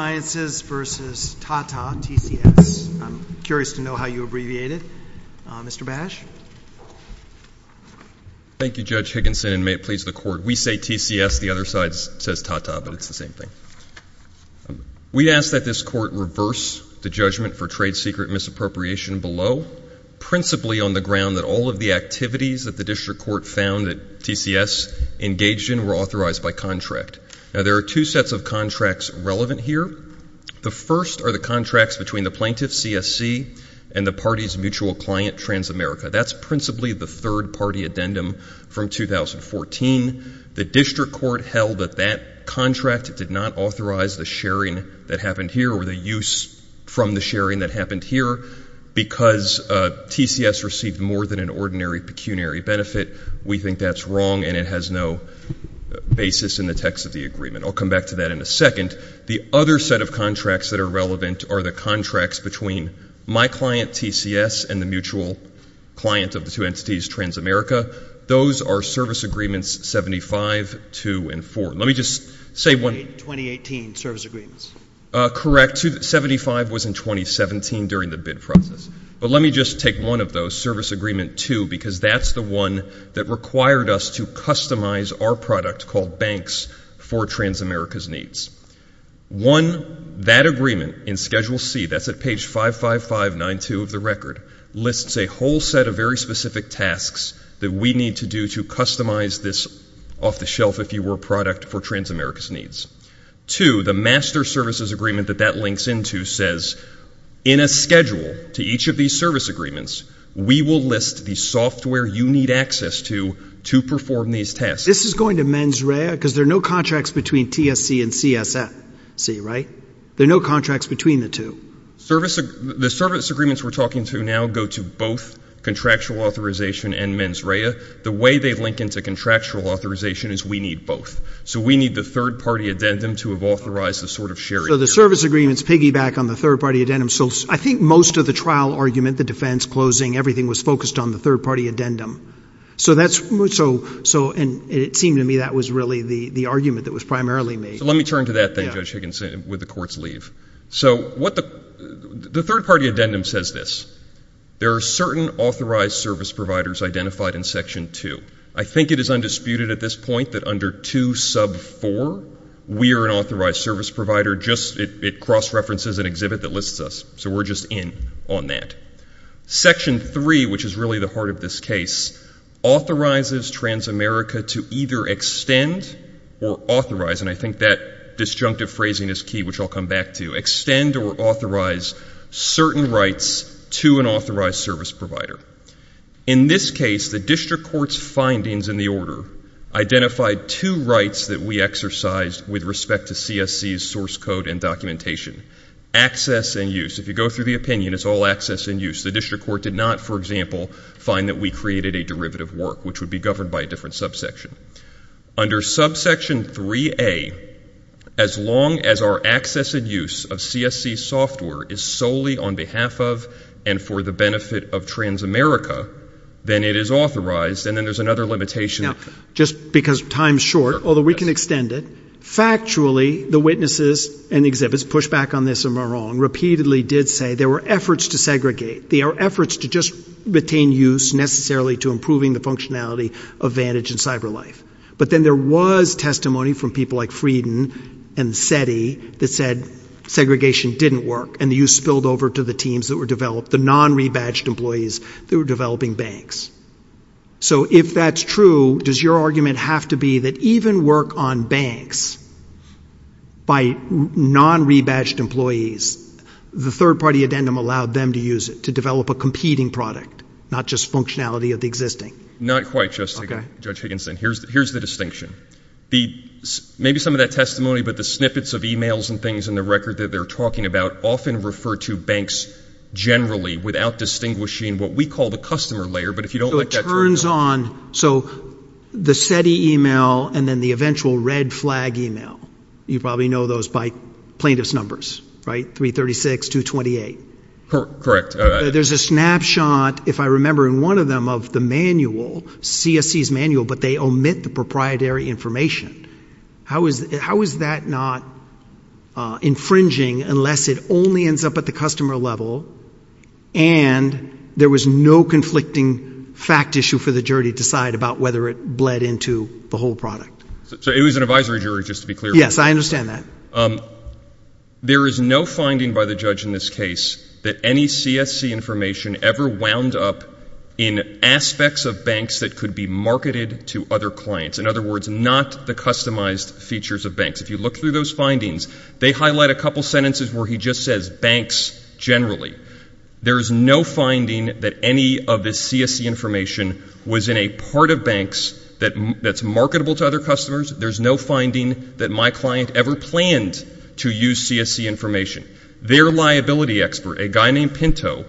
versus Tata TCS. I'm curious to know how you abbreviate it. Mr. Bash? Thank you, Judge Higginson, and may it please the Court. We say TCS, the other side says Tata, but it's the same thing. We ask that this Court reverse the judgment for trade secret misappropriation below, principally on the ground that all of the activities that the District Court found that TCS engaged in were authorized by contract. Now, there are two sets of contracts relevant here. The first are the contracts between the plaintiff, CSC, and the party's mutual client, Transamerica. That's principally the third-party addendum from 2014. The District Court held that that contract did not authorize the sharing that happened here or the use from the sharing that happened here. Because TCS received more than an ordinary pecuniary benefit, we think that's wrong and it has no basis in the text of the agreement. I'll come back to that in a second. The other set of contracts that are relevant are the contracts between my client, TCS, and the mutual client of the two entities, Transamerica. Those are Service Agreements 75, 2, and 4. Let me just say one – 2018 Service Agreements. Correct. 75 was in 2017 during the bid process. But let me just take one of those, Service Agreement 2, because that's the one that required us to customize our product called Banks for Transamerica's Needs. One, that agreement in Schedule C – that's at page 55592 of the record – lists a whole set of very specific tasks that we need to do to customize this off-the-shelf, if you will, product for Transamerica's needs. Two, the Master Services Agreement that that links into says, in a schedule to each of these Service Agreements, we will list the software you need access to to perform these tasks. This is going to mens rea, because there are no contracts between TSC and CSFC, right? There are no contracts between the two. The Service Agreements we're talking to now go to both Contractual Authorization and mens rea. The way they link into Contractual Authorization is we need both. So we need the third-party addendum to have authorized this sort of sharing. So the Service Agreements piggyback on the third-party addendum. So I think most of the trial argument, the defense, closing, everything was focused on the third-party addendum. So that's – and it seemed to me that was really the argument that was primarily made. So let me turn to that then, Judge Higginson, with the Court's leave. So what the – the third-party addendum says this. There are certain authorized service providers identified in Section 2. I think it is undisputed at this point that under 2 sub 4, we are an authorized service provider, just – it cross-references an exhibit that lists us. So we're just in on that. Section 3, which is really the heart of this case, authorizes Transamerica to either extend or authorize – and I think that disjunctive phrasing is key, which I'll come back to – extend or authorize certain rights to an authorized service provider. In this case, the District Court's findings in the order identified two rights that we exercised with respect to CSC's source code and documentation. Access and use. If you go through the opinion, it's all access and use. The District Court did not, for example, find that we created a derivative work, which would be governed by a different subsection. Under subsection 3A, as long as our access and use of CSC software is solely on behalf of and for the benefit of Transamerica, then it is authorized. And then there's another limitation. Just because time's short, although we can extend it. Factually, the witnesses and exhibits – push back on this if I'm wrong – repeatedly did say there were efforts to segregate. There were efforts to just retain use necessarily to improving the functionality of Vantage and CyberLife. But then there was testimony from people like Frieden and SETI that said segregation didn't work, and the use spilled over to the teams that were developed, the non-rebadged employees that were developing banks. So if that's true, does your argument have to be that even work on banks by non-rebadged employees, the third-party addendum allowed them to use it, to develop a competing product, not just functionality of the existing? Not quite, Judge Higginson. Here's the distinction. Maybe some of that testimony, but the snippets of emails and things in the record that they're talking about often refer to banks generally without distinguishing what we call the customer layer, but if you don't let that turn out… So it turns on – so the SETI email and then the eventual red flag email, you probably know those by plaintiff's numbers, right? 336, 228. Correct. There's a snapshot, if I remember in one of them, of the manual, CSC's manual, but they omit the proprietary information. How is that not infringing unless it only ends up at the customer level and there was no conflicting fact issue for the jury to decide about whether it bled into the whole product? So it was an advisory jury, just to be clear. Yes, I understand that. There is no finding by the judge in this case that any CSC information ever wound up in aspects of banks that could be marketed to other clients. In other words, not the customized features of banks. If you look through those findings, they highlight a couple sentences where he just says, banks generally. There's no finding that any of this CSC information was in a part of banks that's marketable to other customers. There's no finding that my client ever planned to use CSC information. Their liability expert, a guy named Pinto,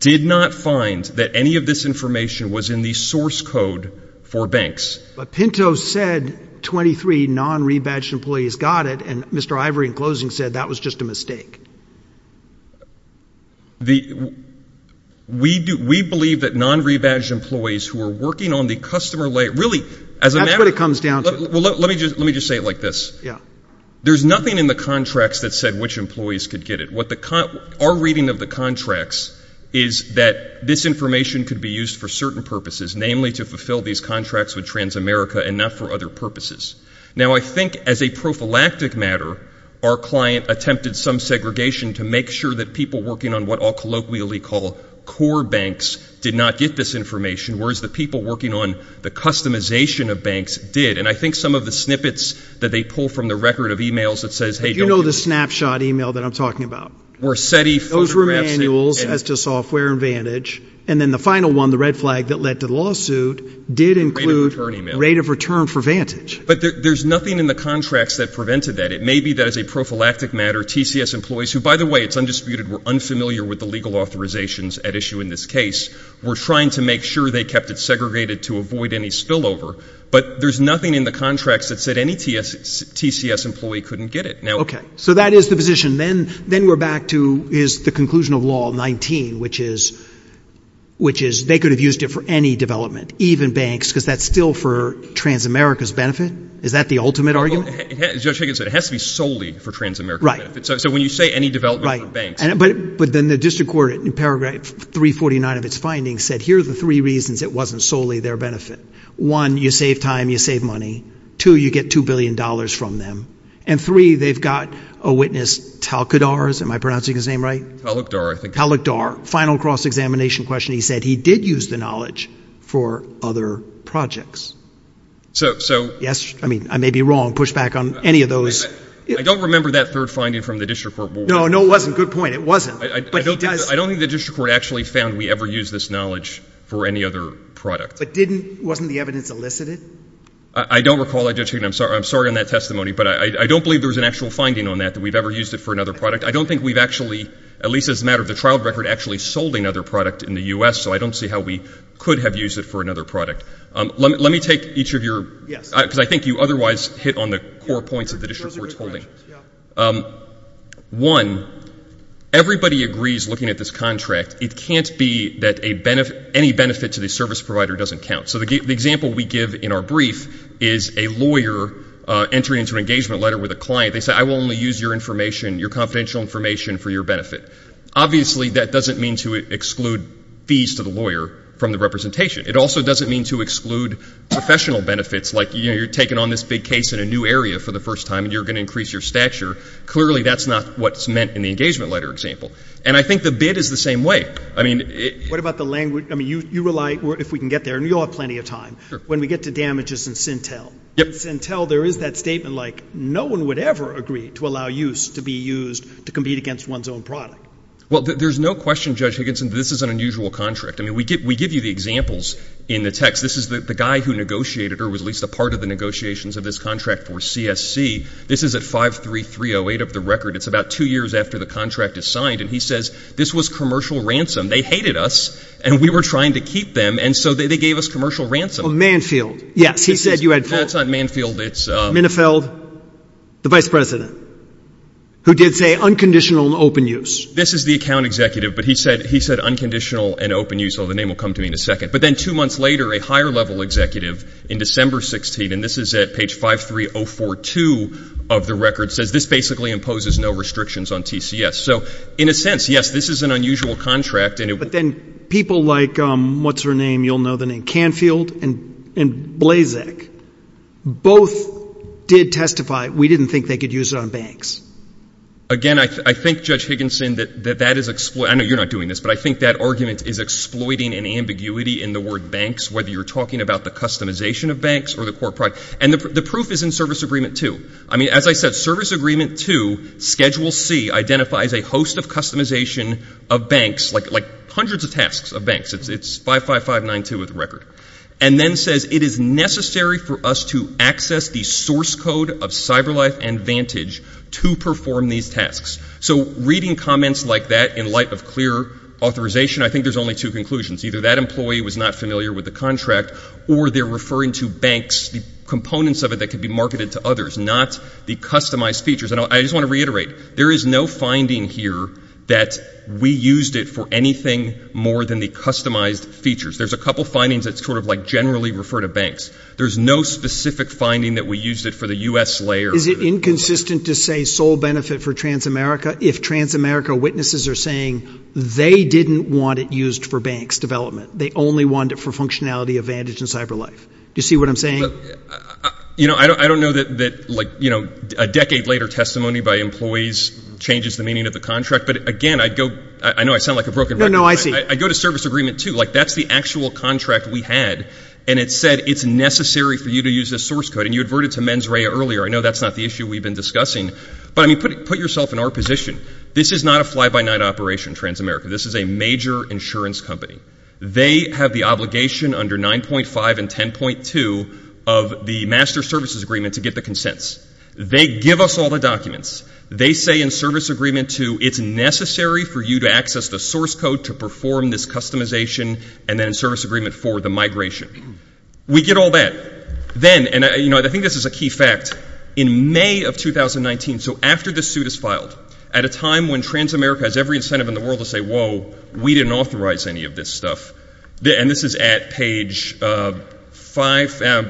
did not find that any of this information was in the source code for banks. But Pinto said 23 non-rebadged employees got it, and Mr. Ivory in closing said that was just a mistake. We believe that non-rebadged employees who are working on the customer layer, really, as a matter of fact. That's what it comes down to. Well, let me just say it like this. Yes. There's nothing in the contracts that said which employees could get it. Our reading of the contracts is that this information could be used for certain purposes, namely to fulfill these contracts with Transamerica and not for other purposes. Now, I think as a prophylactic matter, our client attempted some segregation to make sure that people working on what I'll colloquially call core banks did not get this information, whereas the people working on the customization of banks did. And I think some of the snippets that they pull from the record of e-mails that says, hey, don't get it. Do you know the snapshot e-mail that I'm talking about? Or SETI photographs? Those were manuals as to software and Vantage. And then the final one, the red flag that led to the lawsuit, did include rate of return for Vantage. But there's nothing in the contracts that prevented that. It may be that as a prophylactic matter, TCS employees, who, by the way, it's undisputed, were unfamiliar with the legal authorizations at issue in this case, were trying to make sure they kept it segregated to avoid any spillover. But there's nothing in the contracts that said any TCS employee couldn't get it. Okay. So that is the position. Then we're back to is the conclusion of law 19, which is they could have used it for any development, even banks, because that's still for Transamerica's benefit? Is that the ultimate argument? Well, as Judge Higgins said, it has to be solely for Transamerica's benefit. So when you say any development for banks Right. But then the district court in paragraph 349 of its findings said, here are the three reasons it wasn't solely their benefit. One, you save time, you save money. Two, you get $2 billion from them. And three, they've got a witness, Talcadar, am I pronouncing his name right? Talcadar, I think. Talcadar. Final cross-examination question, he said he did use the knowledge for other projects. So Yes. I mean, I may be wrong. Push back on any of those. I don't remember that third finding from the district court. No, no, it wasn't. Good point. It wasn't. I don't think the district court actually found we ever used this knowledge for any other product. But didn't, wasn't the evidence elicited? I don't recall that, Judge Higgins. I'm sorry. I'm sorry on that testimony. But I don't believe there was an actual finding on that, that we've ever used it for another product. I don't think we've actually, at least as a matter of the trial record, actually sold another product in the U.S. So I don't see how we could have used it for another product. Let me take each of your Yes. Because I think you otherwise hit on the core points of the district court's holding. Yeah. One, everybody agrees looking at this contract, it can't be that any benefit to the service provider doesn't count. So the example we give in our brief is a lawyer entering into an engagement letter with a client. They say, I will only use your information, your confidential information for your benefit. Obviously, that doesn't mean to exclude fees to the lawyer from the representation. It also doesn't mean to exclude professional benefits, like you're taking on this big case in a new area for the first time, and you're going to increase your stature. Clearly, that's not what's meant in the engagement letter example. And I think the bid is the same way. What about the language? I mean, you rely, if we can get there, and you'll have plenty of time. Sure. When we get to damages and Sintel. Yep. In Sintel, there is that statement like, no one would ever agree to allow use to be used to compete against one's own product. Well, there's no question, Judge Higginson, this is an unusual contract. I mean, we give you the examples in the text. This is the guy who negotiated, or was at least a part of the negotiations of this contract for CSC. This is at 5-3-3-0-8 of the record. It's about two years after the contract is signed. And he says, this was commercial ransom. They hated us, and we were trying to keep them, and so they gave us commercial ransom. Oh, Manfield. Yes, he said you had four. That's not Manfield. It's Minifield, the vice president, who did say, unconditional and open use. This is the account executive, but he said, he said, unconditional and open use. Well, the name will come to me in a second. But then two months later, a higher level executive in December 16, and this is at page 5-3-0-4-2 of the record, says, this basically imposes no restrictions on TCS. So, in a sense, yes, this is an unusual contract. But then people like, what's her name, you'll know the name, Canfield, and Blazek, both did testify, we didn't think they could use it on banks. Again, I think, Judge Higginson, that that is, I know you're not doing this, but I think that argument is exploiting an ambiguity in the word banks, whether you're talking about the customization of banks or the core product. And the proof is in Service Agreement 2. I mean, as I said, Service Agreement 2, Schedule C, identifies a host of customization of banks, like, like, hundreds of tasks of banks. It's 55592 of the record. And then says, it is necessary for us to access the source code of CyberLife and Vantage to perform these tasks. So, reading comments like that, in light of clear authorization, I think there's only two conclusions. Either that employee was not familiar with the contract, or they're referring to banks, the components of it that could be marketed to others, not the customized features. And I just want to reiterate, there is no finding here that we used it for anything more than the customized features. There's a couple findings that sort of, like, generally refer to banks. There's no specific finding that we used it for the U.S. layer. Is it inconsistent to say sole benefit for TransAmerica if TransAmerica witnesses are saying they didn't want it used for banks' development? They only wanted it for functionality of Vantage and CyberLife? Do you see what I'm saying? You know, I don't know that, like, you know, a decade later testimony by employees changes the meaning of the contract. But again, I'd go, I know I sound like a broken record. No, no, I see. I'd go to Service Agreement 2. Like, that's the actual contract we had. And it said it's necessary for you to use this source code. And you adverted to Men's Rea earlier. I know that's not the issue we've been discussing. But, I mean, put yourself in our position. This is not a fly-by-night operation, TransAmerica. This is a major insurance company. They have the obligation under 9.5 and 10.2 of the Master Services Agreement to get the consents. They give us all the documents. They say in Service Agreement 2, it's necessary for you to access the source code to perform this customization, and then in Service Agreement 4, the migration. We get all that. Then, and, you know, I think this is a key fact, in May of 2019, so after this suit is filed, at a time when TransAmerica has every incentive in the world to say, whoa, we didn't authorize any of this stuff, and this is at page 5,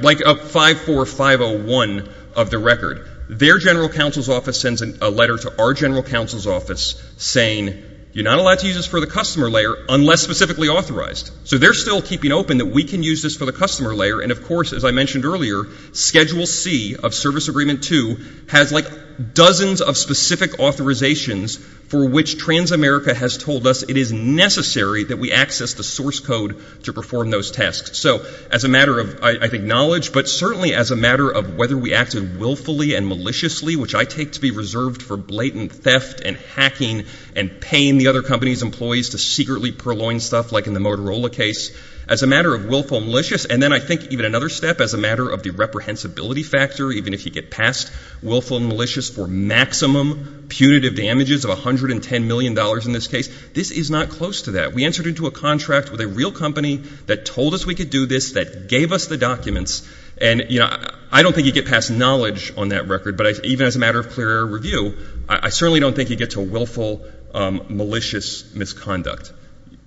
like 54501 of the record, their general counsel's office sends a letter to our general counsel's office saying, you're not allowed to use this for the customer layer unless specifically authorized. So they're still keeping open that we can use this for the customer layer, and of course, as I mentioned earlier, Schedule C of Service Agreement 2 has like dozens of specific authorizations for which TransAmerica has told us it is necessary that we access the source code to perform those tasks. So as a matter of, I think, knowledge, but certainly as a matter of whether we acted willfully and maliciously, which I take to be reserved for blatant theft and hacking and paying the other company's employees to secretly purloin stuff, like in the Motorola case, as a matter of willful and malicious, and then I think even another step, as a matter of the reprehensibility factor, even if you get past willful and malicious for maximum punitive damages of $110 million in this case, this is not close to that. We entered into a contract with a real company that told us we could do this, that gave us the documents, and you know, I don't think you get past knowledge on that record, but even as a matter of clear air review, I certainly don't think you get to willful, malicious misconduct.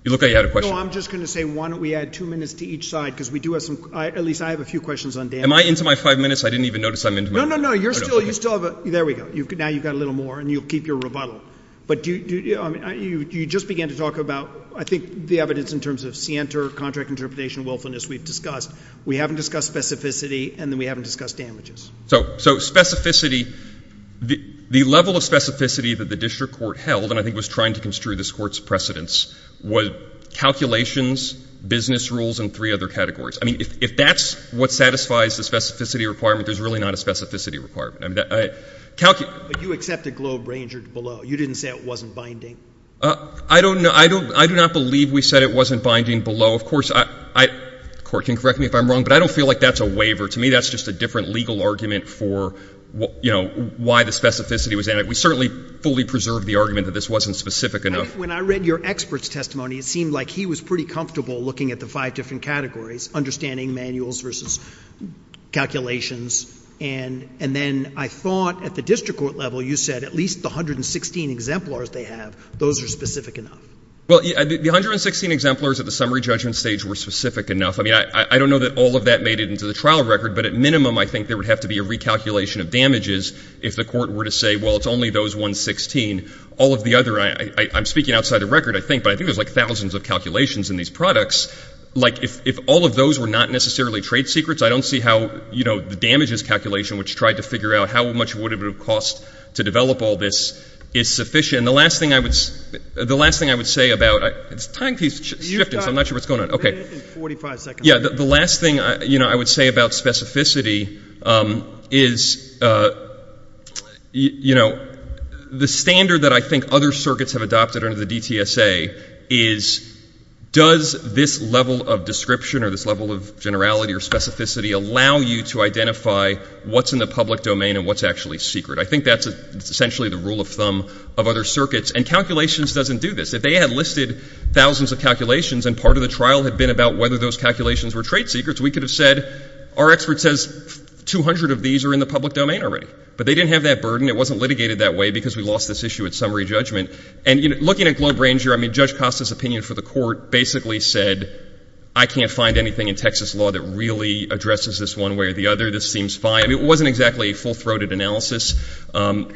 You look And I'm just going to say, why don't we add two minutes to each side, because we do have some—at least I have a few questions on damages. Am I into my five minutes? I didn't even notice I'm into my five minutes. No, no, no. You still have a—there we go. Now you've got a little more, and you'll keep your rebuttal. But you just began to talk about, I think, the evidence in terms of Sienter, contract interpretation, willfulness we've discussed. We haven't discussed specificity, and then we haven't discussed damages. So specificity, the level of specificity that the district court held, and I think was trying to construe this Court's precedence, was calculations, business rules, and three other categories. I mean, if that's what satisfies the specificity requirement, there's really not a specificity requirement. I mean, that— But you accepted Globe Ranger below. You didn't say it wasn't binding. I don't know. I do not believe we said it wasn't binding below. Of course, I—the Court can correct me if I'm wrong, but I don't feel like that's a waiver. To me, that's just a different legal argument for, you know, why the specificity was added. We certainly fully preserved the argument that this wasn't specific enough. When I read your expert's testimony, it seemed like he was pretty comfortable looking at the five different categories, understanding manuals versus calculations. And then I thought at the district court level, you said at least the 116 exemplars they have, those are specific enough. Well, the 116 exemplars at the summary judgment stage were specific enough. I mean, I don't know that all of that made it into the trial record, but at minimum, I think there would have to be a recalculation of damages if the Court were to say, well, it's only those 116. All of the other—I'm speaking outside of record, I think, but I think there's like thousands of calculations in these products. Like, if all of those were not necessarily trade secrets, I don't see how, you know, the damages calculation, which tried to figure out how much would it have cost to develop all this, is sufficient. The last thing I would—the last thing I would say about—it's time keeps shifting, so I'm not sure what's going on. Okay. You've got a minute and 45 seconds. Yeah. The last thing, you know, I would say about specificity is, you know, the standard that I think other circuits have adopted under the DTSA is, does this level of description or this level of generality or specificity allow you to identify what's in the public domain and what's actually secret? I think that's essentially the rule of thumb of other circuits. And calculations doesn't do this. If they had listed thousands of calculations and part of the trial had been about whether those calculations were trade secrets, we could have said, our expert says 200 of these are in the public domain already. But they didn't have that burden. It wasn't litigated that way because we lost this issue at summary judgment. And, you know, looking at Globe Ranger, I mean, Judge Costa's opinion for the court basically said, I can't find anything in Texas law that really addresses this one way or the other. This seems fine. I mean, it wasn't exactly a full-throated analysis.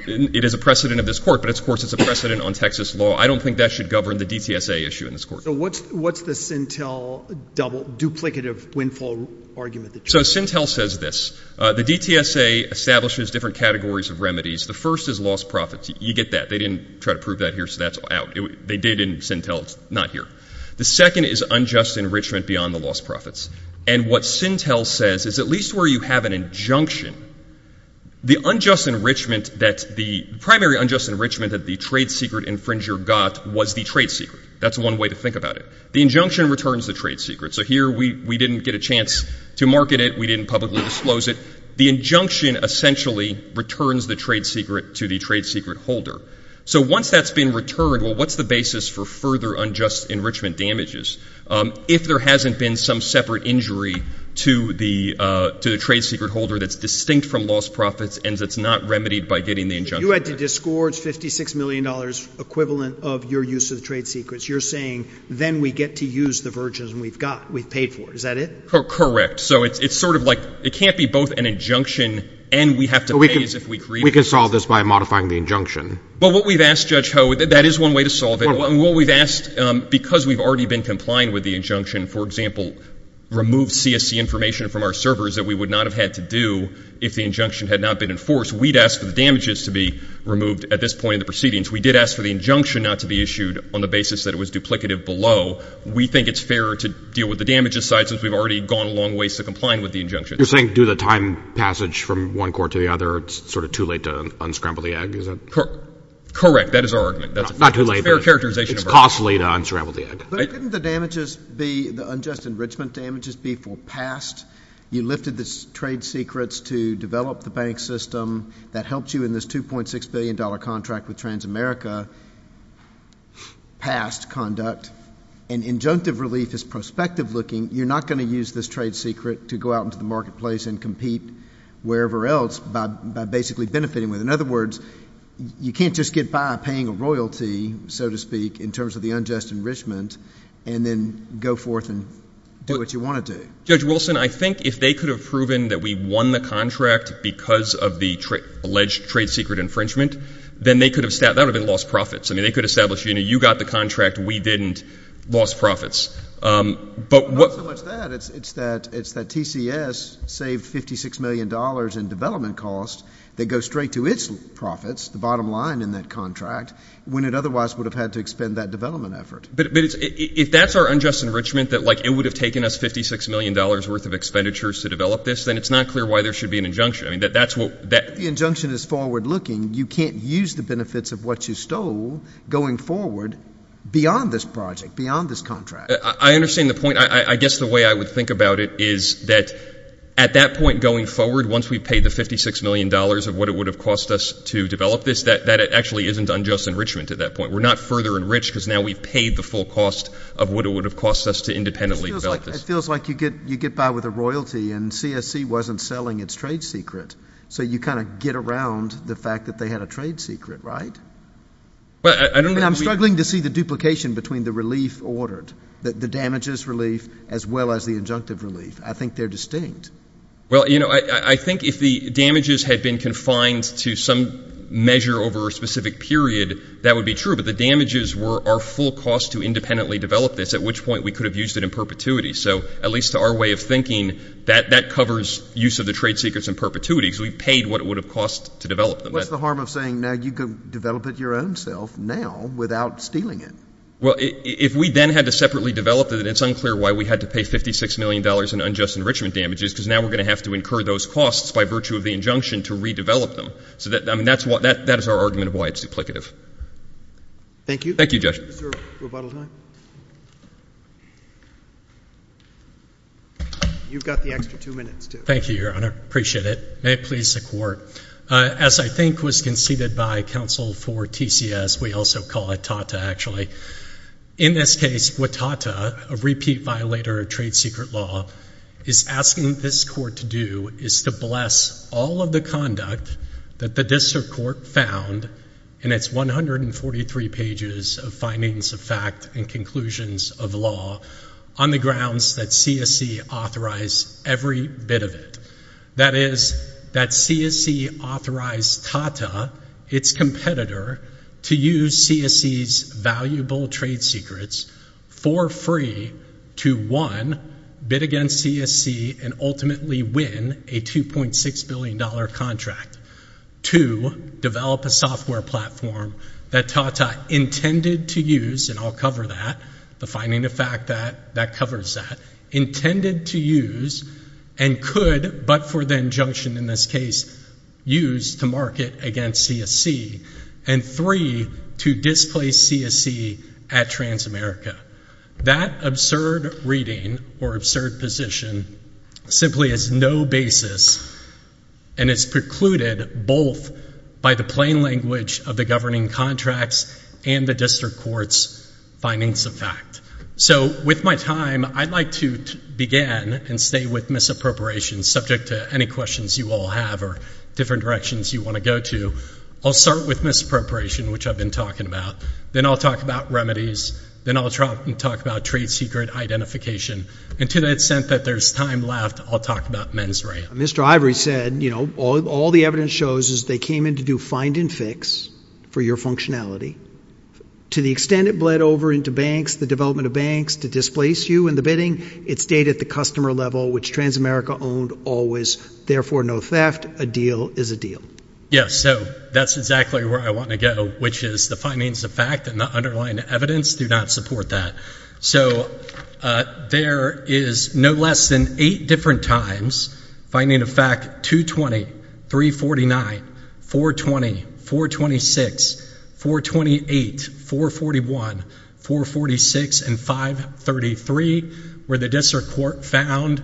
It is a precedent of this court, but, of course, it's a precedent on Texas law. I don't think that should govern the DTSA issue in this court. So what's the Sintel double, duplicative windfall argument? So Sintel says this. The DTSA establishes different categories of remedies. The first is lost profits. You get that. They didn't try to prove that here, so that's out. They did in Sintel. It's not here. The second is unjust enrichment beyond the lost profits. And what Sintel says is, at least where you have an injunction, the unjust enrichment that the primary unjust enrichment that the trade secret infringer got was the trade secret. That's one way to think about it. The injunction returns the trade secret. So here we didn't get a chance to market it. We didn't publicly disclose it. The injunction essentially returns the trade secret to the trade secret holder. So once that's been returned, well, what's the basis for further unjust enrichment damages if there hasn't been some separate injury to the trade secret holder that's distinct from lost profits and that's not remedied by getting the injunction? You had to disgorge $56 million equivalent of your use of the trade secrets. You're saying then we get to use the virgins we've got. We've paid for it. Is that it? Correct. So it's sort of like, it can't be both an injunction and we have to pay as if we created it. We can solve this by modifying the injunction. But what we've asked, Judge Ho, that is one way to solve it. What we've asked, because we've already been complying with the injunction, for example, remove CSC information from our servers that we would not have had to do if the injunction had not been enforced, we'd ask for the damages to be removed at this point in the proceedings. We did ask for the injunction not to be issued on the basis that it was duplicative below. We think it's fairer to deal with the damages side since we've already gone a long ways to comply with the injunction. You're saying due to the time passage from one court to the other, it's sort of too late to unscramble the egg, is it? Correct. That is our argument. Not too late. That's a fair characterization of our argument. It's costly to unscramble the egg. But couldn't the damages be, the unjust enrichment damages be forepassed? You lifted the trade secrets to develop the bank system that helped you in this $2.6 billion contract with Transamerica past conduct. And injunctive relief is prospective looking. You're not going to use this trade secret to go out into the marketplace and compete wherever else by basically benefiting with it. In other words, you can't just get by paying a royalty, so to speak, in terms of the unjust enrichment, and then go forth and do what you want to do. Judge Wilson, I think if they could have proven that we won the contract because of the alleged trade secret infringement, then they could have, that would have been lost profits. I mean, they could have established, you know, you got the contract, we didn't, lost profits. But what Not so much that. It's that TCS saved $56 million in development costs that go straight to its profits, the bottom line in that contract, when it otherwise would have had to expend that development effort. But if that's our unjust enrichment, that like it would have taken us $56 million worth of expenditures to develop this, then it's not clear why there should be an injunction. I mean, that's what that The injunction is forward looking. You can't use the benefits of what you stole going forward beyond this project, beyond this contract. I understand the point. I guess the way I would think about it is that at that point going forward, once we pay the $56 million of what it would have cost us to develop this, that actually isn't unjust enrichment at that point. We're not further enriched because now we've paid the full cost of what it would have cost us to independently develop this. It feels like you get, you get by with a royalty and CSC wasn't selling its trade secret. So you kind of get around the fact that they had a trade secret, right? Well, I don't And I'm struggling to see the duplication between the relief ordered, the damages relief as well as the injunctive relief. I think they're distinct. Well, you know, I think if the damages had been confined to some measure over a specific period, that would be true. But the damages were our full cost to independently develop this, at which point we could have used it in perpetuity. So at least to our way of thinking, that covers use of the trade secrets in perpetuity because we paid what it would have cost to develop them. What's the harm of saying now you can develop it your own self now without stealing it? Well, if we then had to separately develop it, it's unclear why we had to pay $56 million in unjust enrichment damages because now we're going to have to incur those costs by virtue of the injunction to redevelop them. So I mean, that is our argument of why it's duplicative. Thank you. Thank you, Judge. Is there a rebuttal time? You've got the extra two minutes, too. Thank you, Your Honor. Appreciate it. May it please the Court. As I think was conceded by counsel for TCS, we also call it TATA actually. In this case, with TATA, a repeat violator of trade secret law, is asking this Court to do is to bless all of the conduct that the District Court found in its 143 pages of findings of fact and conclusions of law on the grounds that CSC authorized every bit of it. That is, that CSC authorized TATA, its competitor, to use CSC's valuable trade secrets for free to, one, bid against CSC and ultimately win a $2.6 billion contract. Two, develop a software platform that TATA intended to use, and I'll cover that, the finding of fact that covers that, intended to use and could, but for the injunction in this case, use to market against CSC. And three, to displace CSC at Transamerica. That absurd reading or absurd position simply has no basis and is precluded both by the plain language of the governing contracts and the Court's findings of fact. So with my time, I'd like to begin and stay with misappropriation subject to any questions you all have or different directions you want to go to. I'll start with misappropriation, which I've been talking about. Then I'll talk about remedies. Then I'll try and talk about trade secret identification. And to the extent that there's time left, I'll talk about mens rea. Mr. Ivory said, you know, all the evidence shows is they came in to do find and fix for your functionality. To the extent it bled over into banks, the development of banks to displace you in the bidding, it stayed at the customer level, which Transamerica owned always. Therefore, no theft. A deal is a deal. Yes. So that's exactly where I want to go, which is the findings of fact and the underlying evidence do not support that. So there is no less than eight different times finding of fact 220, 349, 420, 426, 428, 441, 446, and 533, where the district court found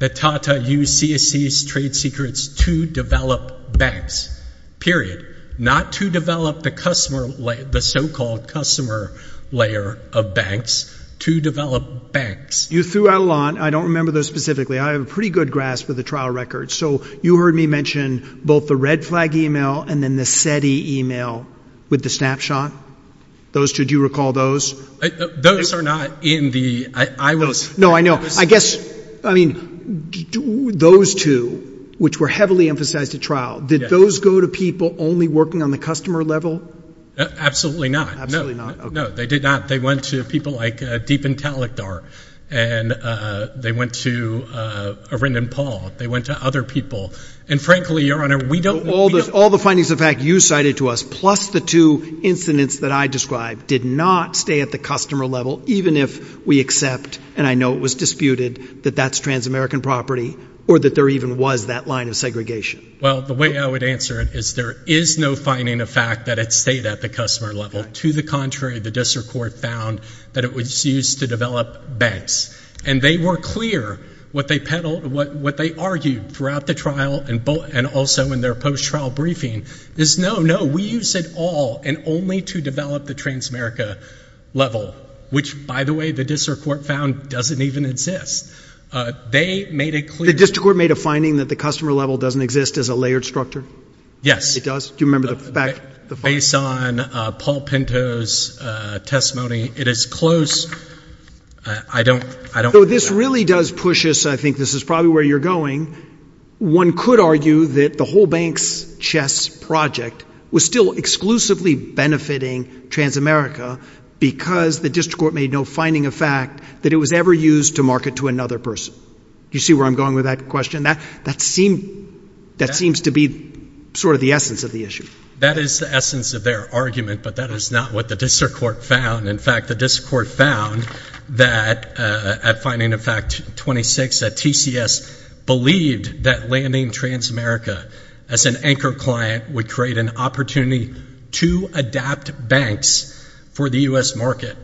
that Tata used CSE's trade secrets to develop banks, period. Not to develop the so-called customer layer of banks, to develop banks. You threw out a lot. I don't remember those specifically. I have a pretty good grasp of the trial records. So you heard me mention both the red flag e-mail and then the SETI e-mail with the snapshot. Those two, do you recall those? Those are not in the I wills. No, I know. I guess, I mean, those two, which were heavily emphasized at trial, did those go to people only working on the customer level? Absolutely not. Absolutely not. No, they did not. They went to people like Deepan Talakdar and they went to Arindam Paul. They went to other people. And frankly, Your Honor, we don't All the findings of fact you cited to us, plus the two incidents that I described, did not stay at the customer level, even if we accept, and I know it was disputed, that that's trans-American property or that there even was that line of segregation. Well, the way I would answer it is there is no finding of fact that it stayed at the customer level. To the contrary, the district court found that it was used to develop banks. And they were clear what they peddled, what they argued throughout the trial and also in their post-trial briefing, is no, no, we use it all and only to develop the trans-America level, which, by the way, the district court found doesn't even exist. They made it clear The district court made a finding that the customer level doesn't exist as a layered structure? Yes. It does? Do you remember the fact Based on Paul Pinto's testimony, it is close. I don't Though this really does push us, I think this is probably where you're going. One could argue that the whole banks chess project was still exclusively benefiting trans-America because the district court made no finding of fact that it was ever used to market to another person. Do you see where I'm going with that question? That seems to be sort of the essence of the issue. That is the essence of their argument, but that is not what the district court found. In fact, the district court found that at finding of fact 26, that TCS believed that landing trans-America as an anchor client would create an opportunity to adapt banks for the U.S. market.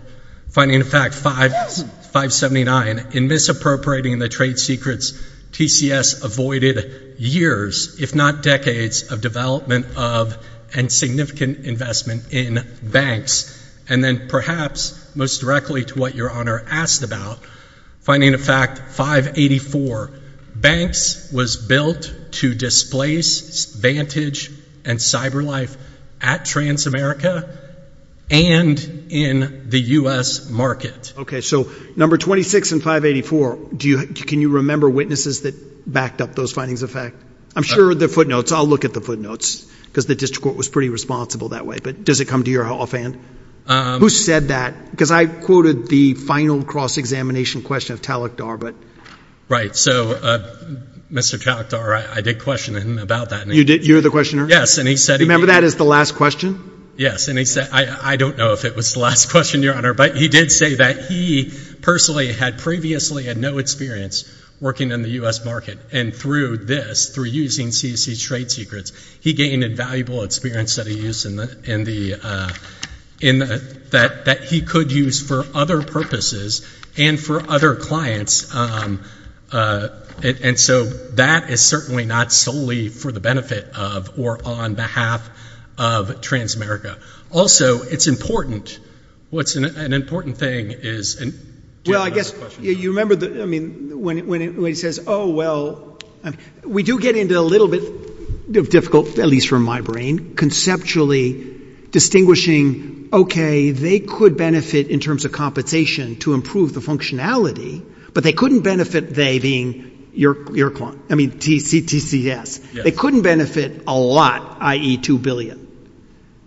Finding of fact 579, in misappropriating the trade secrets, TCS avoided years, if not decades, of development of and significant investment in banks. And then perhaps most directly to what your honor asked about, finding of fact 584, banks was built to displace Vantage and CyberLife at trans-America and in the U.S. market. Okay, so number 26 and 584, can you remember witnesses that backed up those findings of fact? I'm sure the footnotes, I'll look at the footnotes, because the district court was pretty responsible that way, but does it come to your offhand? Who said that? Because I quoted the final cross-examination question of Talakdar, but... Right, so Mr. Talakdar, I did question him about that. You did, you're the questioner? Yes, and he said... You remember that as the last question? Yes, and he said, I don't know if it was the last question, your honor, but he did say that he personally had previously had no experience working in the U.S. market, and through this, through using CCC's trade secrets, he gained invaluable experience that he could use for other purposes and for other clients, and so that is certainly not solely for the benefit of or on behalf of Transamerica. Also, it's important, what's an important thing is... Well, I guess, you remember, I mean, when he says, oh, well, we do get into a little bit of difficult, at least from my brain, conceptually distinguishing, okay, they could benefit in terms of compensation to improve the functionality, but they couldn't benefit they being your client, I mean, CTCS. They couldn't benefit a lot, i.e. two billion.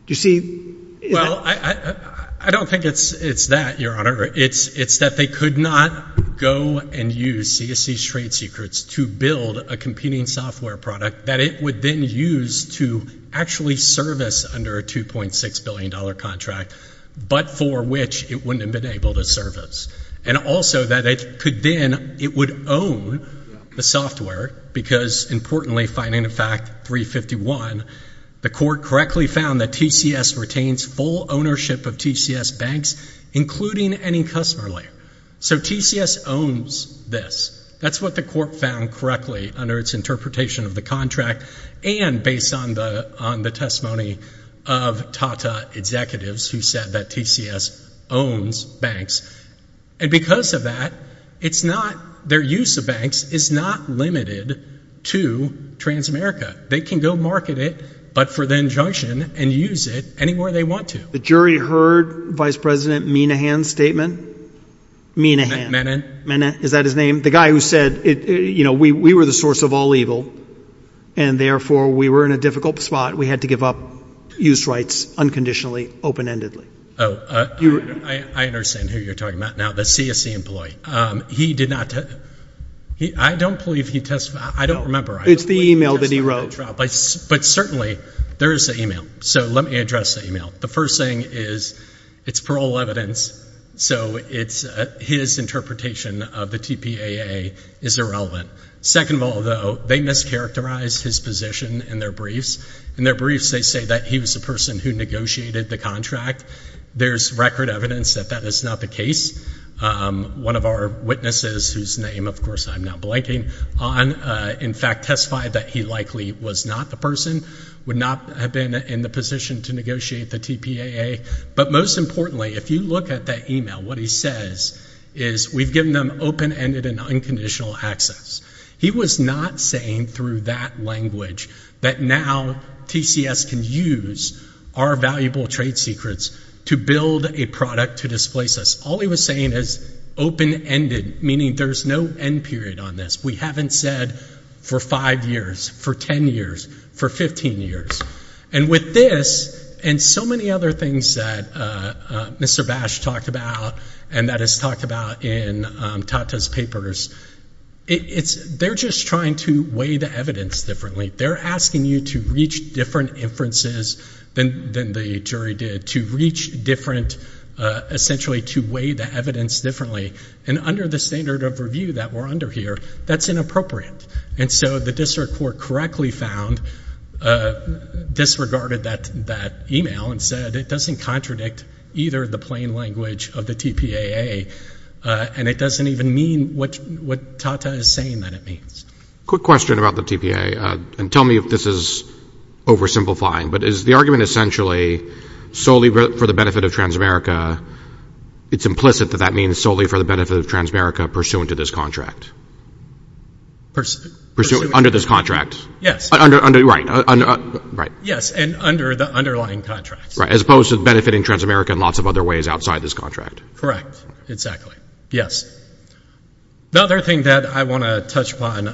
You see... Well, I don't think it's that, your honor. It's that they could not go and use CCC's trade secrets to build a competing software product that it would then use to actually service under a $2.6 billion contract, but for which it wouldn't have been able to service, and also that it could then, it would own the software because, importantly, finding a fact 351, the court correctly found that TCS retains full ownership of TCS banks, including any customer layer. So, TCS owns this. That's what the court found correctly under its interpretation of the contract and based on the testimony of TATA executives who said that TCS owns banks, and because of that, it's not, their use of banks is not limited to Transamerica. They can go market it, but for the injunction, and use it anywhere they want to. The jury heard Vice President Menehan's statement? Menehan? Menehan. Menehan, is that his name? The guy who said, you know, we were the source of all evil, and therefore we were in a difficult spot, we had to give up use rights unconditionally, open-endedly. Oh, I understand who you're talking about now, the CSE employee. He did not, I don't believe he testified, I don't remember. It's the email that he wrote. But certainly, there is an email, so let me address the email. The first thing is, it's parole evidence, so it's, his interpretation of the TPAA is irrelevant. Second of all though, they mischaracterized his position in their briefs. In their briefs, they say that he was the person who negotiated the contract. There's record evidence that that is not the case. One of our witnesses, whose name of course I'm not blanking on, in fact testified that he likely was not the person, would not have been in the position to negotiate the TPAA. But most importantly, if you look at that email, what he says is, we've given them open-ended and unconditional access. He was not saying through that language that now TCS can use our valuable trade secrets to build a product to displace us. All he was saying is open-ended, meaning there's no end period on this. We haven't said for five years, for 10 years, for 15 years. And with this, and so many other things that Mr. Bash talked about, and that is talked about in Tata's papers, it's, they're just trying to weigh the evidence differently. They're asking you to reach different inferences than the jury did, to reach different, essentially to weigh the evidence differently. And under the standard of review that we're under here, that's inappropriate. And so the district court correctly found, disregarded that email and said it doesn't contradict either the plain language of the TPAA. And it doesn't even mean what Tata is saying that it means. Quick question about the TPAA, and tell me if this is oversimplifying, but is the argument essentially solely for the benefit of Transamerica, it's implicit that that means solely for the benefit of Transamerica pursuant to this contract? Pursuant to this contract, yes. Yes. Under, right, right. Yes, and under the underlying contracts. Right, as opposed to benefiting Transamerica in lots of other ways outside this contract. Correct, exactly, yes. The other thing that I want to touch upon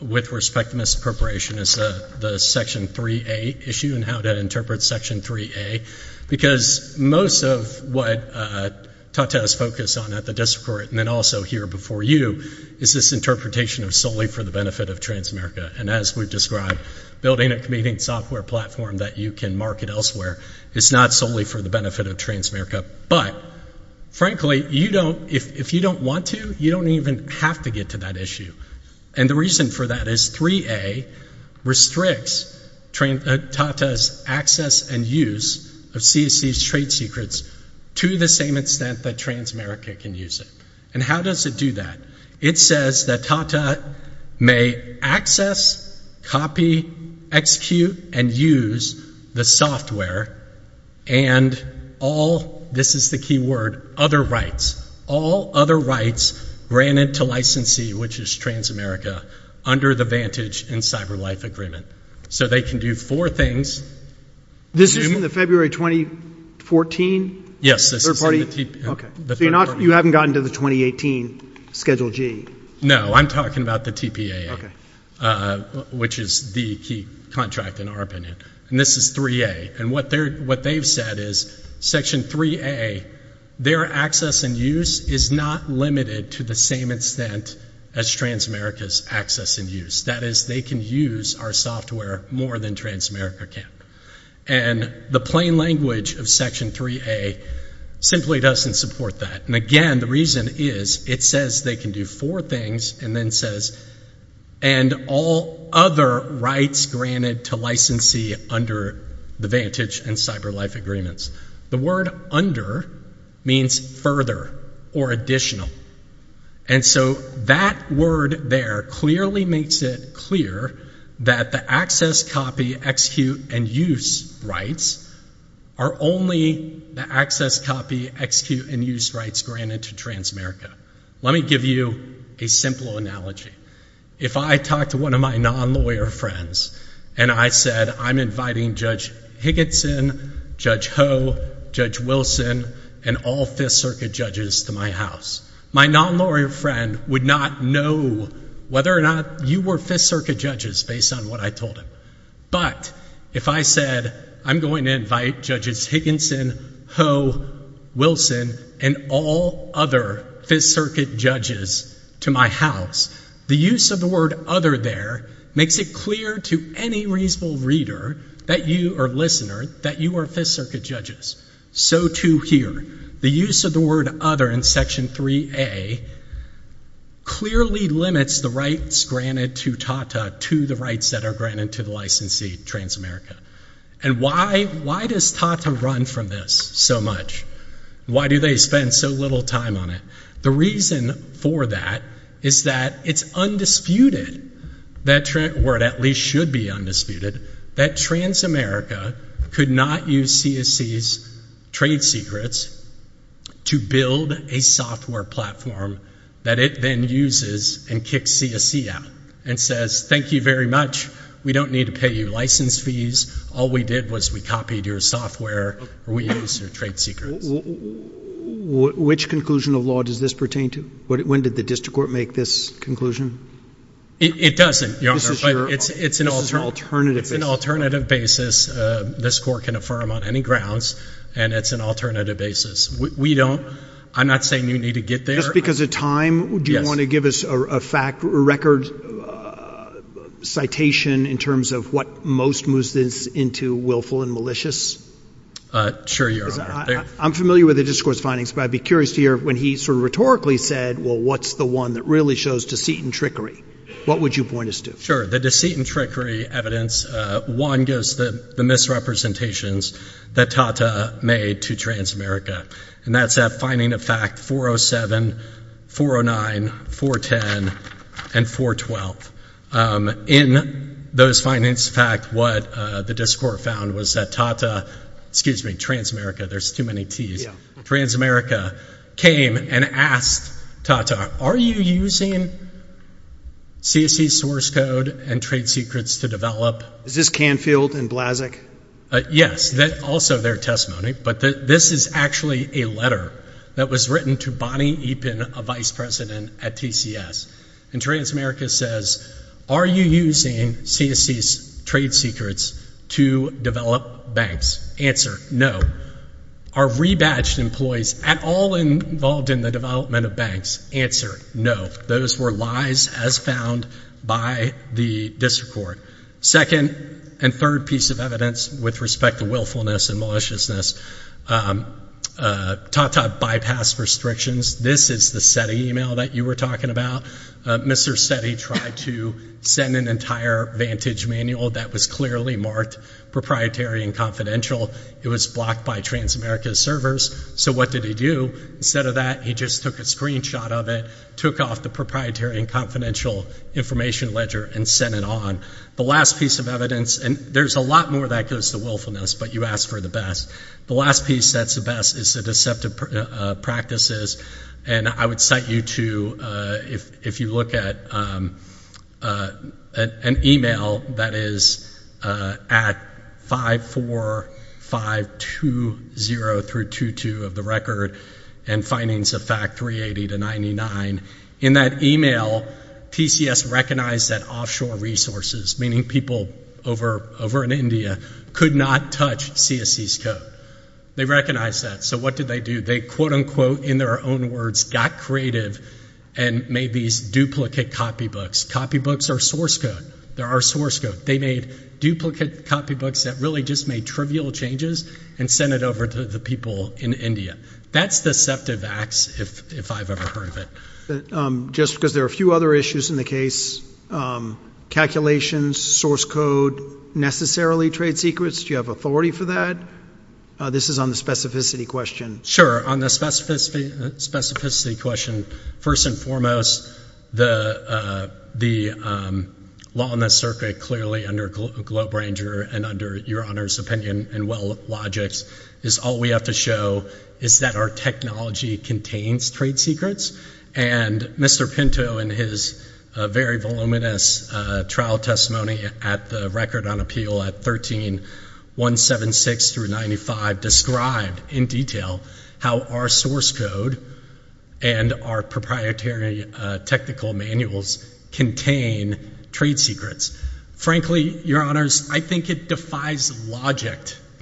with respect to misappropriation is the Section 3A issue and how that interprets Section 3A, because most of what Tata's focus on at the district court, and then also here before you, is this interpretation of solely for the benefit of Transamerica. And as we've described, building a competing software platform that you can market elsewhere is not solely for the benefit of Transamerica. But, frankly, you don't, if you don't want to, you don't even have to get to that issue. And the reason for that is 3A restricts Tata's access and use of CSC's trade secrets to the same extent that Transamerica can use it. And how does it do that? It says that Tata may access, copy, execute, and use the software and all, this is the key word, other rights. All other rights granted to licensee, which is Transamerica, under the Vantage and Cyberlife Agreement. So they can do four things. This is in the February 2014? Yes, this is in the TPA. Okay. Which is the key contract, in our opinion. And this is 3A. And what they've said is, Section 3A, their access and use is not limited to the same extent as Transamerica's access and use. That is, they can use our software more than Transamerica can. And the plain language of Section 3A simply doesn't support that. And again, the reason is, it says they can do four things, and then says, and all other rights granted to licensee under the Vantage and Cyberlife Agreements. The word under means further or additional. And so that word there clearly makes it clear that the access, copy, execute, and use rights are only the access, copy, execute, and use rights granted to Transamerica. Let me give you a simple analogy. If I talked to one of my non-lawyer friends, and I said, I'm inviting Judge Higginson, Judge Ho, Judge Wilson, and all Fifth Circuit judges to my house. My non-lawyer friend would not know whether or not you were Fifth Circuit judges based on what I told him. But, if I said, I'm going to invite Judges Higginson, Ho, Wilson, and all other Fifth Circuit judges to my house. The use of the word other there makes it clear to any reasonable reader, or listener, that you are Fifth Circuit judges. So too here. The use of the word other in Section 3A clearly limits the rights granted to TATA to the rights that are granted to the licensee, Transamerica. And why does TATA run from this so much? Why do they spend so little time on it? The reason for that is that it's undisputed, or it at least should be undisputed, that Transamerica could not use CSC's trade secrets to build a software platform that it then uses and kicks CSC out, and says, thank you very much. We don't need to pay you license fees. All we did was we copied your software. We used your trade secrets. Which conclusion of law does this pertain to? When did the District Court make this conclusion? It doesn't, Your Honor. It's an alternative basis. This Court can affirm on any grounds, and it's an alternative basis. We don't, I'm not saying you need to get there. Just because of time, do you want to give us a fact, a record citation in terms of what most moves this into willful and malicious? Sure, Your Honor. I'm familiar with the District Court's findings, but I'd be curious to hear when he sort of rhetorically said, well, what's the one that really shows deceit and trickery? What would you point us to? Sure. The deceit and trickery evidence, one, gives the misrepresentations that Tata made to Transamerica, and that's that finding of fact 407, 409, 410, and 412. In those findings, in fact, what the District Court found was that Tata, excuse me, Transamerica, there's too many Ts, Transamerica came and asked Tata, are you using CSC's source code? Are you using CSC's source code and trade secrets to develop? Is this Canfield and Blasek? Yes, also their testimony, but this is actually a letter that was written to Bonnie Eapen, a vice president at TCS, and Transamerica says, are you using CSC's trade secrets to develop banks? Answer, no. Are rebadged employees at all involved in the development of banks? Answer, no. Those were lies as found by the District Court. Second and third piece of evidence with respect to willfulness and maliciousness, Tata bypassed restrictions. This is the SETI email that you were talking about. Mr. SETI tried to send an entire vantage manual that was clearly marked proprietary and confidential. It was blocked by Transamerica's servers, so what did he do? Instead of that, he just took a screenshot of it, took off the proprietary and confidential information ledger, and sent it on. The last piece of evidence, and there's a lot more that goes to willfulness, but you asked for the best. The last piece that's the best is the deceptive practices, and I would cite you to, if you look at an email that is at 54520-22 of the record and findings of fact 380-99, in that email, TCS recognized that offshore resources, meaning people over in India, could not touch CSE's code. They recognized that, so what did they do? They quote unquote, in their own words, got creative and made these duplicate copybooks. Copybooks are source code. They are source code. They made duplicate copybooks that really just made trivial changes and sent it over to the people in India. That's deceptive acts, if I've ever heard of it. Just because there are a few other issues in the case, calculations, source code, necessarily trade secrets, do you have authority for that? This is on the specificity question. Sure, on the specificity question, first and foremost, the law on the circuit clearly under Globe Ranger and under Your Honor's opinion and well logics, is all we have to show is that our technology contains trade secrets, and Mr. Pinto in his very voluminous trial testimony at the Record on Appeal at 13-176-95 described in detail how our source code and our proprietary technical manuals contain trade secrets. Frankly, Your Honors, I think it defies logic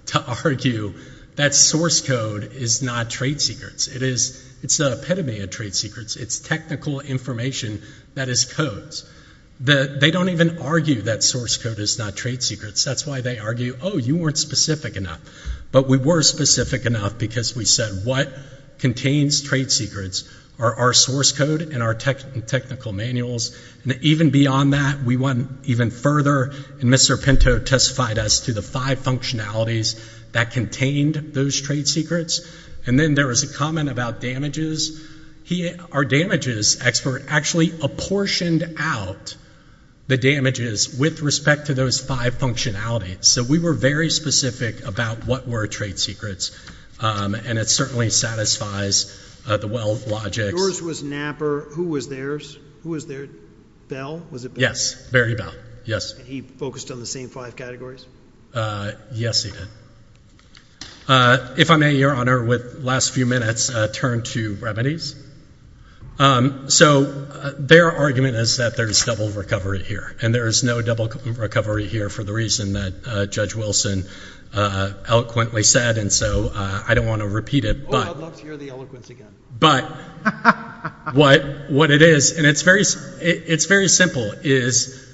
to argue that source code is not trade secrets. It's not epitome of trade secrets. It's technical information that is codes. They don't even argue that source code is not trade secrets. That's why they argue, oh, you weren't specific enough. But we were specific enough because we said what contains trade secrets are our source code and our technical manuals. And even beyond that, we went even further and Mr. Pinto testified us to the five functionalities that contained those trade secrets. And then there was a comment about damages. Our damages expert actually apportioned out the damages with respect to those five functionalities. So we were very specific about what were trade secrets, and it certainly satisfies the well logics. Yours was NAPR. Who was theirs? Who was theirs? Bell? Was it Bell? Yes. Barry Bell. Yes. He focused on the same five categories? Yes, he did. If I may, Your Honor, with the last few minutes, I'll turn to remedies. So their argument is that there's double recovery here, and there's no double recovery here for the reason that Judge Wilson eloquently said, and so I don't want to repeat it. Oh, I'd love to hear the eloquence again. But what it is, and it's very simple, is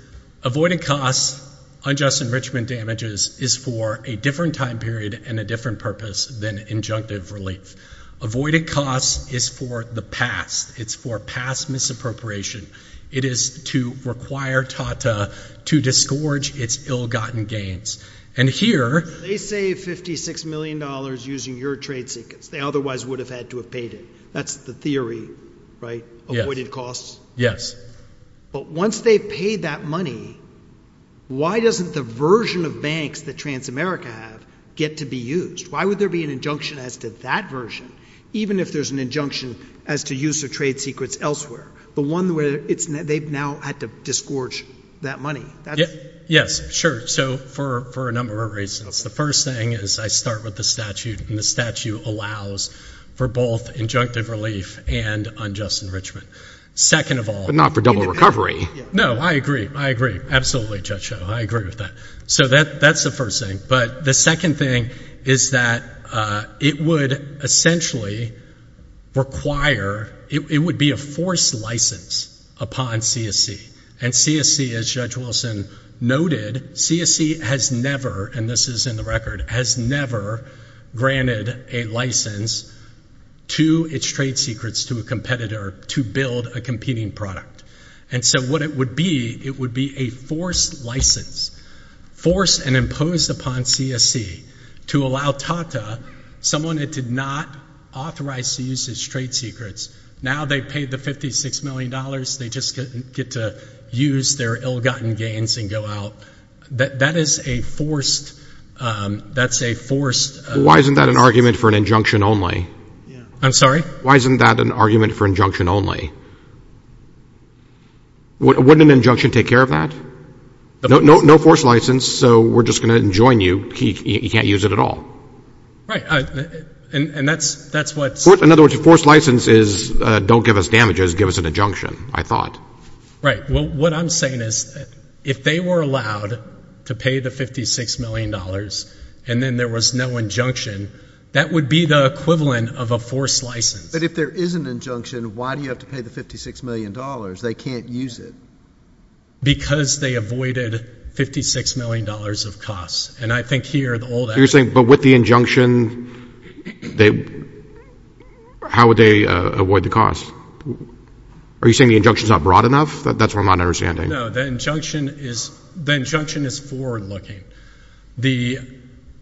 avoided costs, unjust enrichment damages is for a different time period and a different purpose than injunctive relief. Avoided costs is for the past. It's for past misappropriation. It is to require TATA to disgorge its ill-gotten gains. And here— They save $56 million using your trade secrets. They otherwise would have had to have paid it. That's the theory, right? Avoided costs? Yes. But once they've paid that money, why doesn't the version of banks that Transamerica have get to be used? Why would there be an injunction as to that version, even if there's an injunction as to use of trade secrets elsewhere? The one where it's—they've now had to disgorge that money. Yes, sure. So for a number of reasons. The first thing is I start with the statute, and the statute allows for both injunctive relief and unjust enrichment. Second of all— But not for double recovery. No, I agree. I agree. Absolutely, Judge Schoen. I agree with that. So that's the first thing. But the second thing is that it would essentially require—it would be a forced license upon CSC. And CSC, as Judge Wilson noted, CSC has never—and this is in the record—has never granted a license to its trade secrets to a competitor to build a competing product. And so what it would be, it would be a forced license. Forced and imposed upon CSC to allow Tata, someone that did not authorize the use of trade secrets, now they've paid the $56 million, they just get to use their ill-gotten gains and go out. That is a forced—that's a forced— Why isn't that an argument for an injunction only? I'm sorry? Why isn't that an argument for injunction only? Wouldn't an injunction take care of that? No forced license, so we're just going to enjoin you. You can't use it at all. Right. And that's what— In other words, a forced license is don't give us damages, give us an injunction, I Right. Well, what I'm saying is if they were allowed to pay the $56 million and then there was no injunction, that would be the equivalent of a forced license. But if there is an injunction, why do you have to pay the $56 million? They can't use it. Because they avoided $56 million of costs. And I think here, the old— You're saying, but with the injunction, they—how would they avoid the cost? Are you saying the injunction's not broad enough? That's what I'm not understanding. No, the injunction is forward-looking. The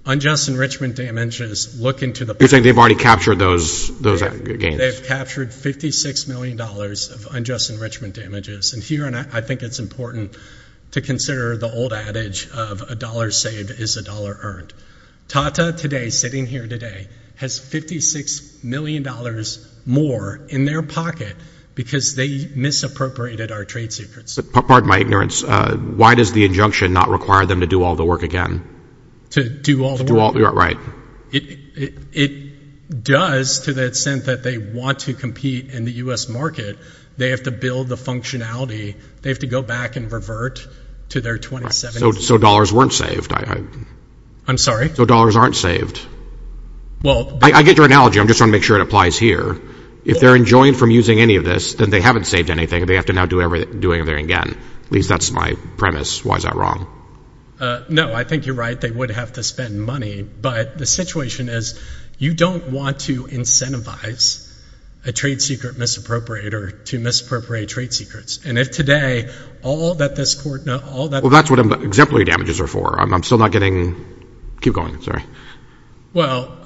unjust enrichment damages look into the— You're saying they've already captured those gains? Yeah, they've captured $56 million of unjust enrichment damages. And here, I think it's important to consider the old adage of a dollar saved is a dollar earned. Tata today, sitting here today, has $56 million more in their pocket because they misappropriated our trade secrets. Pardon my ignorance. Why does the injunction not require them to do all the work again? To do all the work? Right. It does to the extent that they want to compete in the U.S. market. They have to build the functionality. They have to go back and revert to their 2017— So dollars weren't saved. I'm sorry? So dollars aren't saved. I get your analogy. I'm just trying to make sure it applies here. If they're enjoined from using any of this, then they haven't saved anything. They have to now do everything again. At least that's my premise. Why is that wrong? No, I think you're right. They would have to spend money. But the situation is you don't want to incentivize a trade secret misappropriator to misappropriate trade secrets. And if today, all that this court— Well, that's what exemplary damages are for. I'm still not getting—keep going, sorry. Well,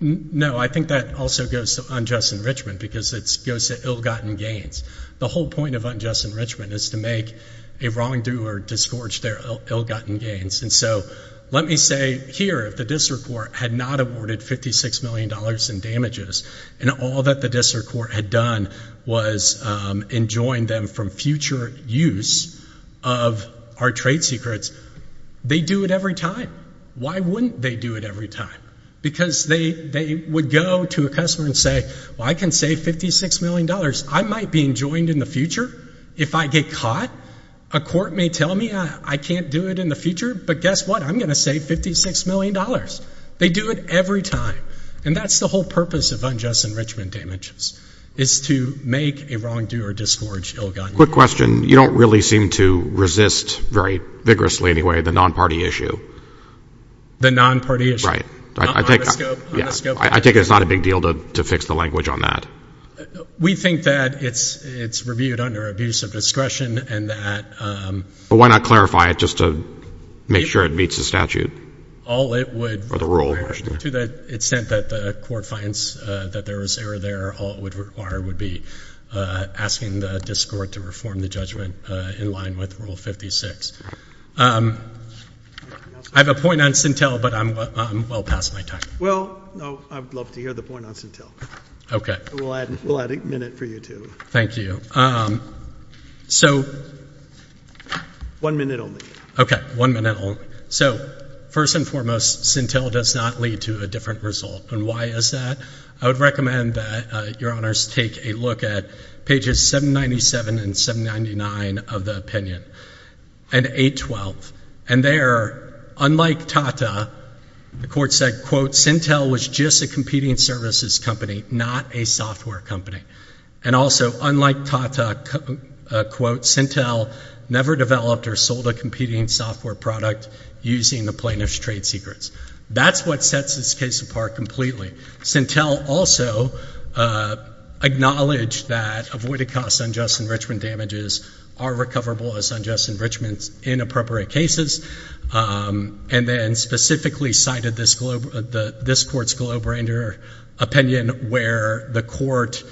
no, I think that also goes to unjust enrichment because it goes to ill-gotten gains. The whole point of unjust enrichment is to make a wrongdoer disgorge their ill-gotten gains. And so let me say here, if the district court had not awarded $56 million in damages and all that the district court had done was enjoined them from future use of our trade secrets, they'd do it every time. Why wouldn't they do it every time? Because they would go to a customer and say, well, I can save $56 million. I might be enjoined in the future if I get caught. A court may tell me I can't do it in the future, but guess what? I'm going to save $56 million. They do it every time. And that's the whole purpose of unjust enrichment damages, is to make a wrongdoer disgorge ill-gotten gains. Quick question. You don't really seem to resist very vigorously, anyway, the non-party issue. The non-party issue. Right. On the scope. I take it it's not a big deal to fix the language on that. We think that it's reviewed under abuse of discretion and that— But why not clarify it just to make sure it meets the statute? All it would require, to the extent that the court finds that there was error there, all it would require would be asking the district court to reform the judgment in line with Rule 56. Anything else? I have a point on Sintel, but I'm well past my time. Well, I would love to hear the point on Sintel. Okay. And we'll add a minute for you, too. Thank you. So— One minute only. Okay. One minute only. So, first and foremost, Sintel does not lead to a different result. And why is that? I would recommend that your honors take a look at pages 797 and 799 of the opinion. And 812. And there, unlike Tata, the court said, quote, Sintel was just a competing services company, not a software company. And also, unlike Tata, quote, Sintel never developed or sold a competing software product using the plaintiff's trade secrets. That's what sets this case apart completely. Sintel also acknowledged that avoided-cost unjust enrichment damages are recoverable as unjust enrichments in appropriate cases. And then specifically cited this court's Globrander opinion where the court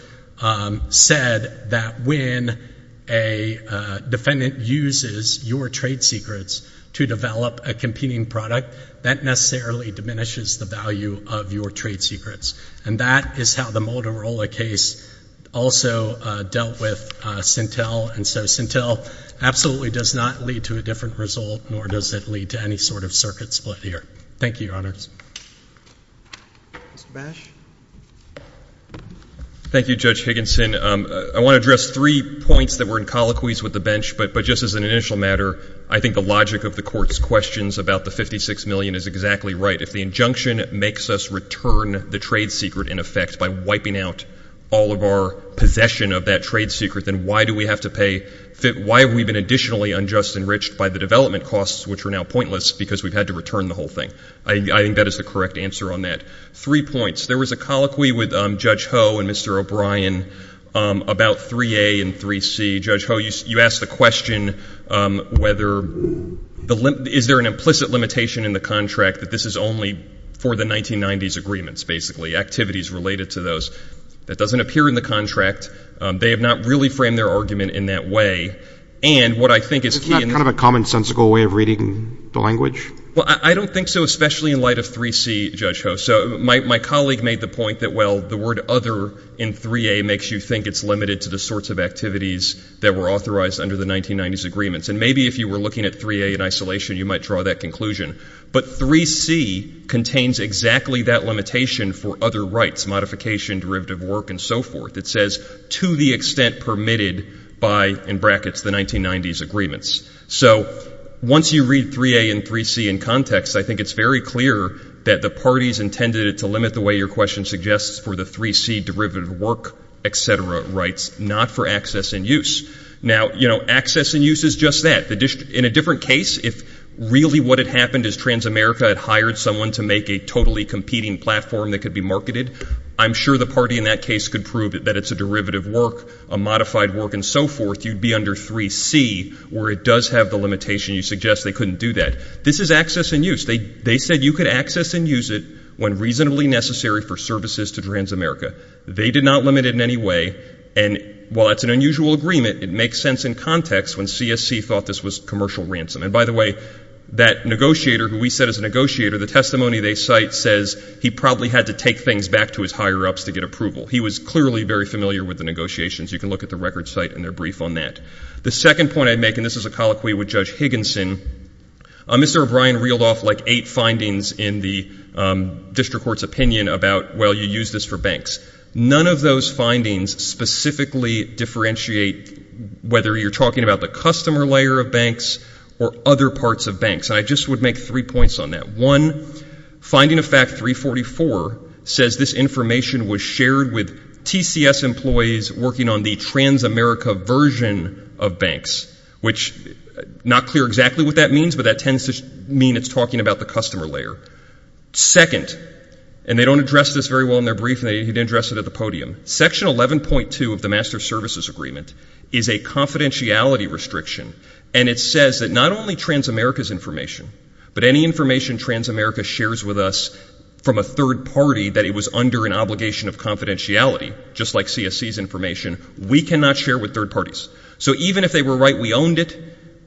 said that when a defendant uses your trade secrets to develop a competing product, that necessarily diminishes the value of your trade secrets. And that is how the Motorola case also dealt with Sintel. And so Sintel absolutely does not lead to a different result, nor does it lead to any sort of circuit split here. Thank you, your honors. Mr. Bash? Thank you, Judge Higginson. I want to address three points that were in colloquies with the bench, but just as an initial matter, I think the logic of the court's questions about the $56 million is exactly right. If the injunction makes us return the trade secret, in effect, by wiping out all of our possession of that trade secret, then why do we have to pay — why have we been additionally unjust enriched by the development costs, which are now pointless because we've had to return the whole thing? I think that is the correct answer on that. Three points. There was a colloquy with Judge Ho and Mr. O'Brien about 3A and 3C. Judge Ho, you asked the question whether — is there an implicit limitation in the contract that this is only for the 1990s agreements, basically, activities related to those? That doesn't appear in the contract. They have not really framed their argument in that way. And what I think is key — Is that kind of a commonsensical way of reading the language? Well, I don't think so, especially in light of 3C, Judge Ho. So my colleague made the point that, well, the word other in 3A makes you think it's limited to the sorts of activities that were authorized under the 1990s agreements. And maybe if you were looking at 3A in isolation, you might draw that conclusion. But 3C contains exactly that limitation for other rights, modification, derivative work, and so forth. It says, to the extent permitted by, in brackets, the 1990s agreements. So once you read 3A and 3C in context, I think it's very clear that the parties intended it to limit the way your question suggests for the 3C derivative work, et cetera, rights, not for access and use. Now, you know, access and use is just that. In a different case, if really what had happened is Transamerica had hired someone to make a totally competing platform that could be marketed, I'm sure the party in that case could prove that it's a derivative work, a modified work, and so forth. You'd be under 3C, where it does have the limitation you suggest they couldn't do that. This is access and use. They said you could access and use it when reasonably necessary for services to Transamerica. They did not limit it in any way. And while it's an unusual agreement, it makes sense in context when CSC thought this was commercial ransom. And by the way, that negotiator who we said is a negotiator, the testimony they cite says he probably had to take things back to his higher-ups to get approval. He was clearly very familiar with the negotiations. You can look at the record site and their brief on that. The second point I'd make, and this is a colloquy with Judge Higginson, Mr. O'Brien reeled off like eight findings in the district court's opinion about, well, you use this for banks. None of those findings specifically differentiate whether you're talking about the customer layer of banks or other parts of banks. And I just would make three points on that. One, finding of fact 344 says this information was shared with TCS employees working on the Transamerica version of banks, which not clear exactly what that means, but that tends to mean it's talking about the customer layer. Second, and they don't address this very well in their brief, and they didn't address it at the podium, Section 11.2 of the Master Services Agreement is a confidentiality restriction. And it says that not only Transamerica's information, but any information Transamerica shares with us from a third party that it was under an obligation of confidentiality, just like CSC's information, we cannot share with third parties. So even if they were right we owned it,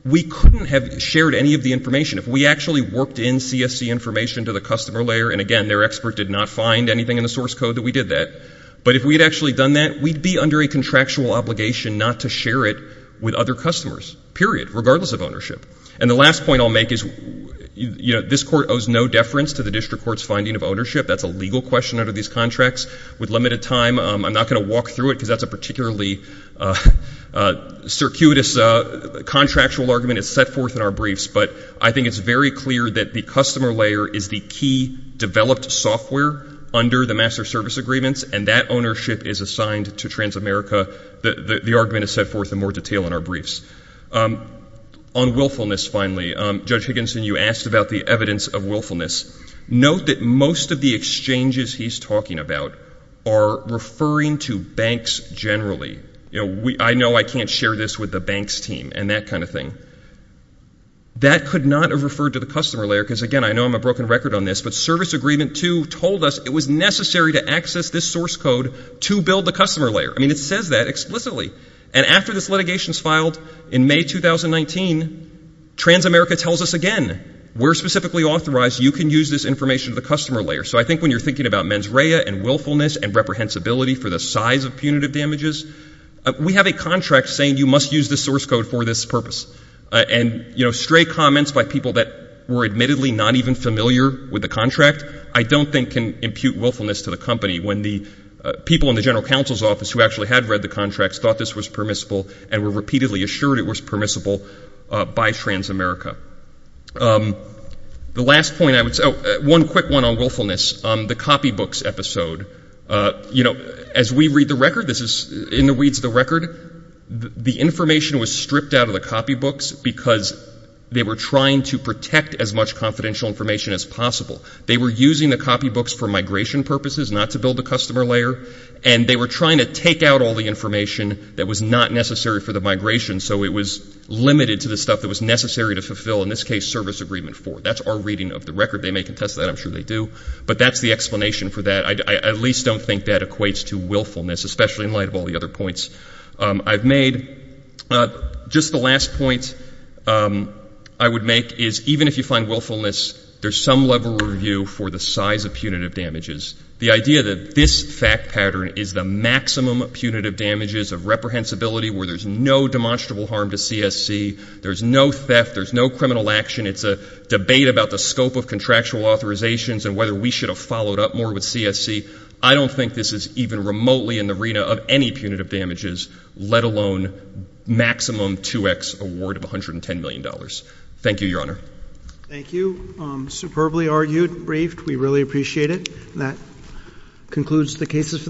we couldn't have shared any of the information. If we actually worked in CSC information to the customer layer, and again, their expert did not find anything in the source code that we did that. But if we had actually done that, we'd be under a contractual obligation not to share it with other customers, period, regardless of ownership. And the last point I'll make is, you know, this court owes no deference to the district court's finding of ownership. That's a legal question under these contracts. With limited time, I'm not going to walk through it, because that's a particularly circuitous contractual argument. It's set forth in our briefs. But I think it's very clear that the customer layer is the key developed software under the Master Service Agreements, and that ownership is assigned to Transamerica. The argument is set forth in more detail in our briefs. On willfulness, finally, Judge Higginson, you asked about the evidence of willfulness. Note that most of the exchanges he's talking about are referring to banks generally. You know, I know I can't share this with the banks team and that kind of thing. That could not have referred to the customer layer, because again, I know I'm a broken record on this, but Service Agreement 2 told us it was necessary to access this source code to build the customer layer. I mean, it says that explicitly. And after this litigation is filed in May 2019, Transamerica tells us again, we're specifically authorized, you can use this information to the customer layer. So I think when you're thinking about mens rea and willfulness and reprehensibility for the size of punitive damages, we have a contract saying you must use this source code for this purpose. And you know, stray comments by people that were admittedly not even familiar with the contract, I don't think can impute willfulness to the company when the people in the General Counsel's Office who actually had read the contracts thought this was permissible and were repeatedly assured it was permissible by Transamerica. The last point I would say, one quick one on willfulness, the copybooks episode. You know, as we read the record, this is in the reads of the record, the information was stripped out of the copybooks because they were trying to protect as much confidential information as possible. They were using the copybooks for migration purposes, not to build the customer layer. And they were trying to take out all the information that was not necessary for the migration, so it was limited to the stuff that was necessary to fulfill, in this case, service agreement for. That's our reading of the record. They may contest that. I'm sure they do. But that's the explanation for that. I at least don't think that equates to willfulness, especially in light of all the other points I've made. Just the last point I would make is, even if you find willfulness, there's some level review for the size of punitive damages. The idea that this fact pattern is the maximum punitive damages of reprehensibility where there's no demonstrable harm to CSC, there's no theft, there's no criminal action, it's a debate about the scope of contractual authorizations and whether we should have followed up more with CSC, I don't think this is even remotely in the arena of any punitive damages, let alone maximum 2X award of $110 million. Thank you, Your Honor. Thank you. Superbly argued, briefed. We really appreciate it. That concludes the cases for the day.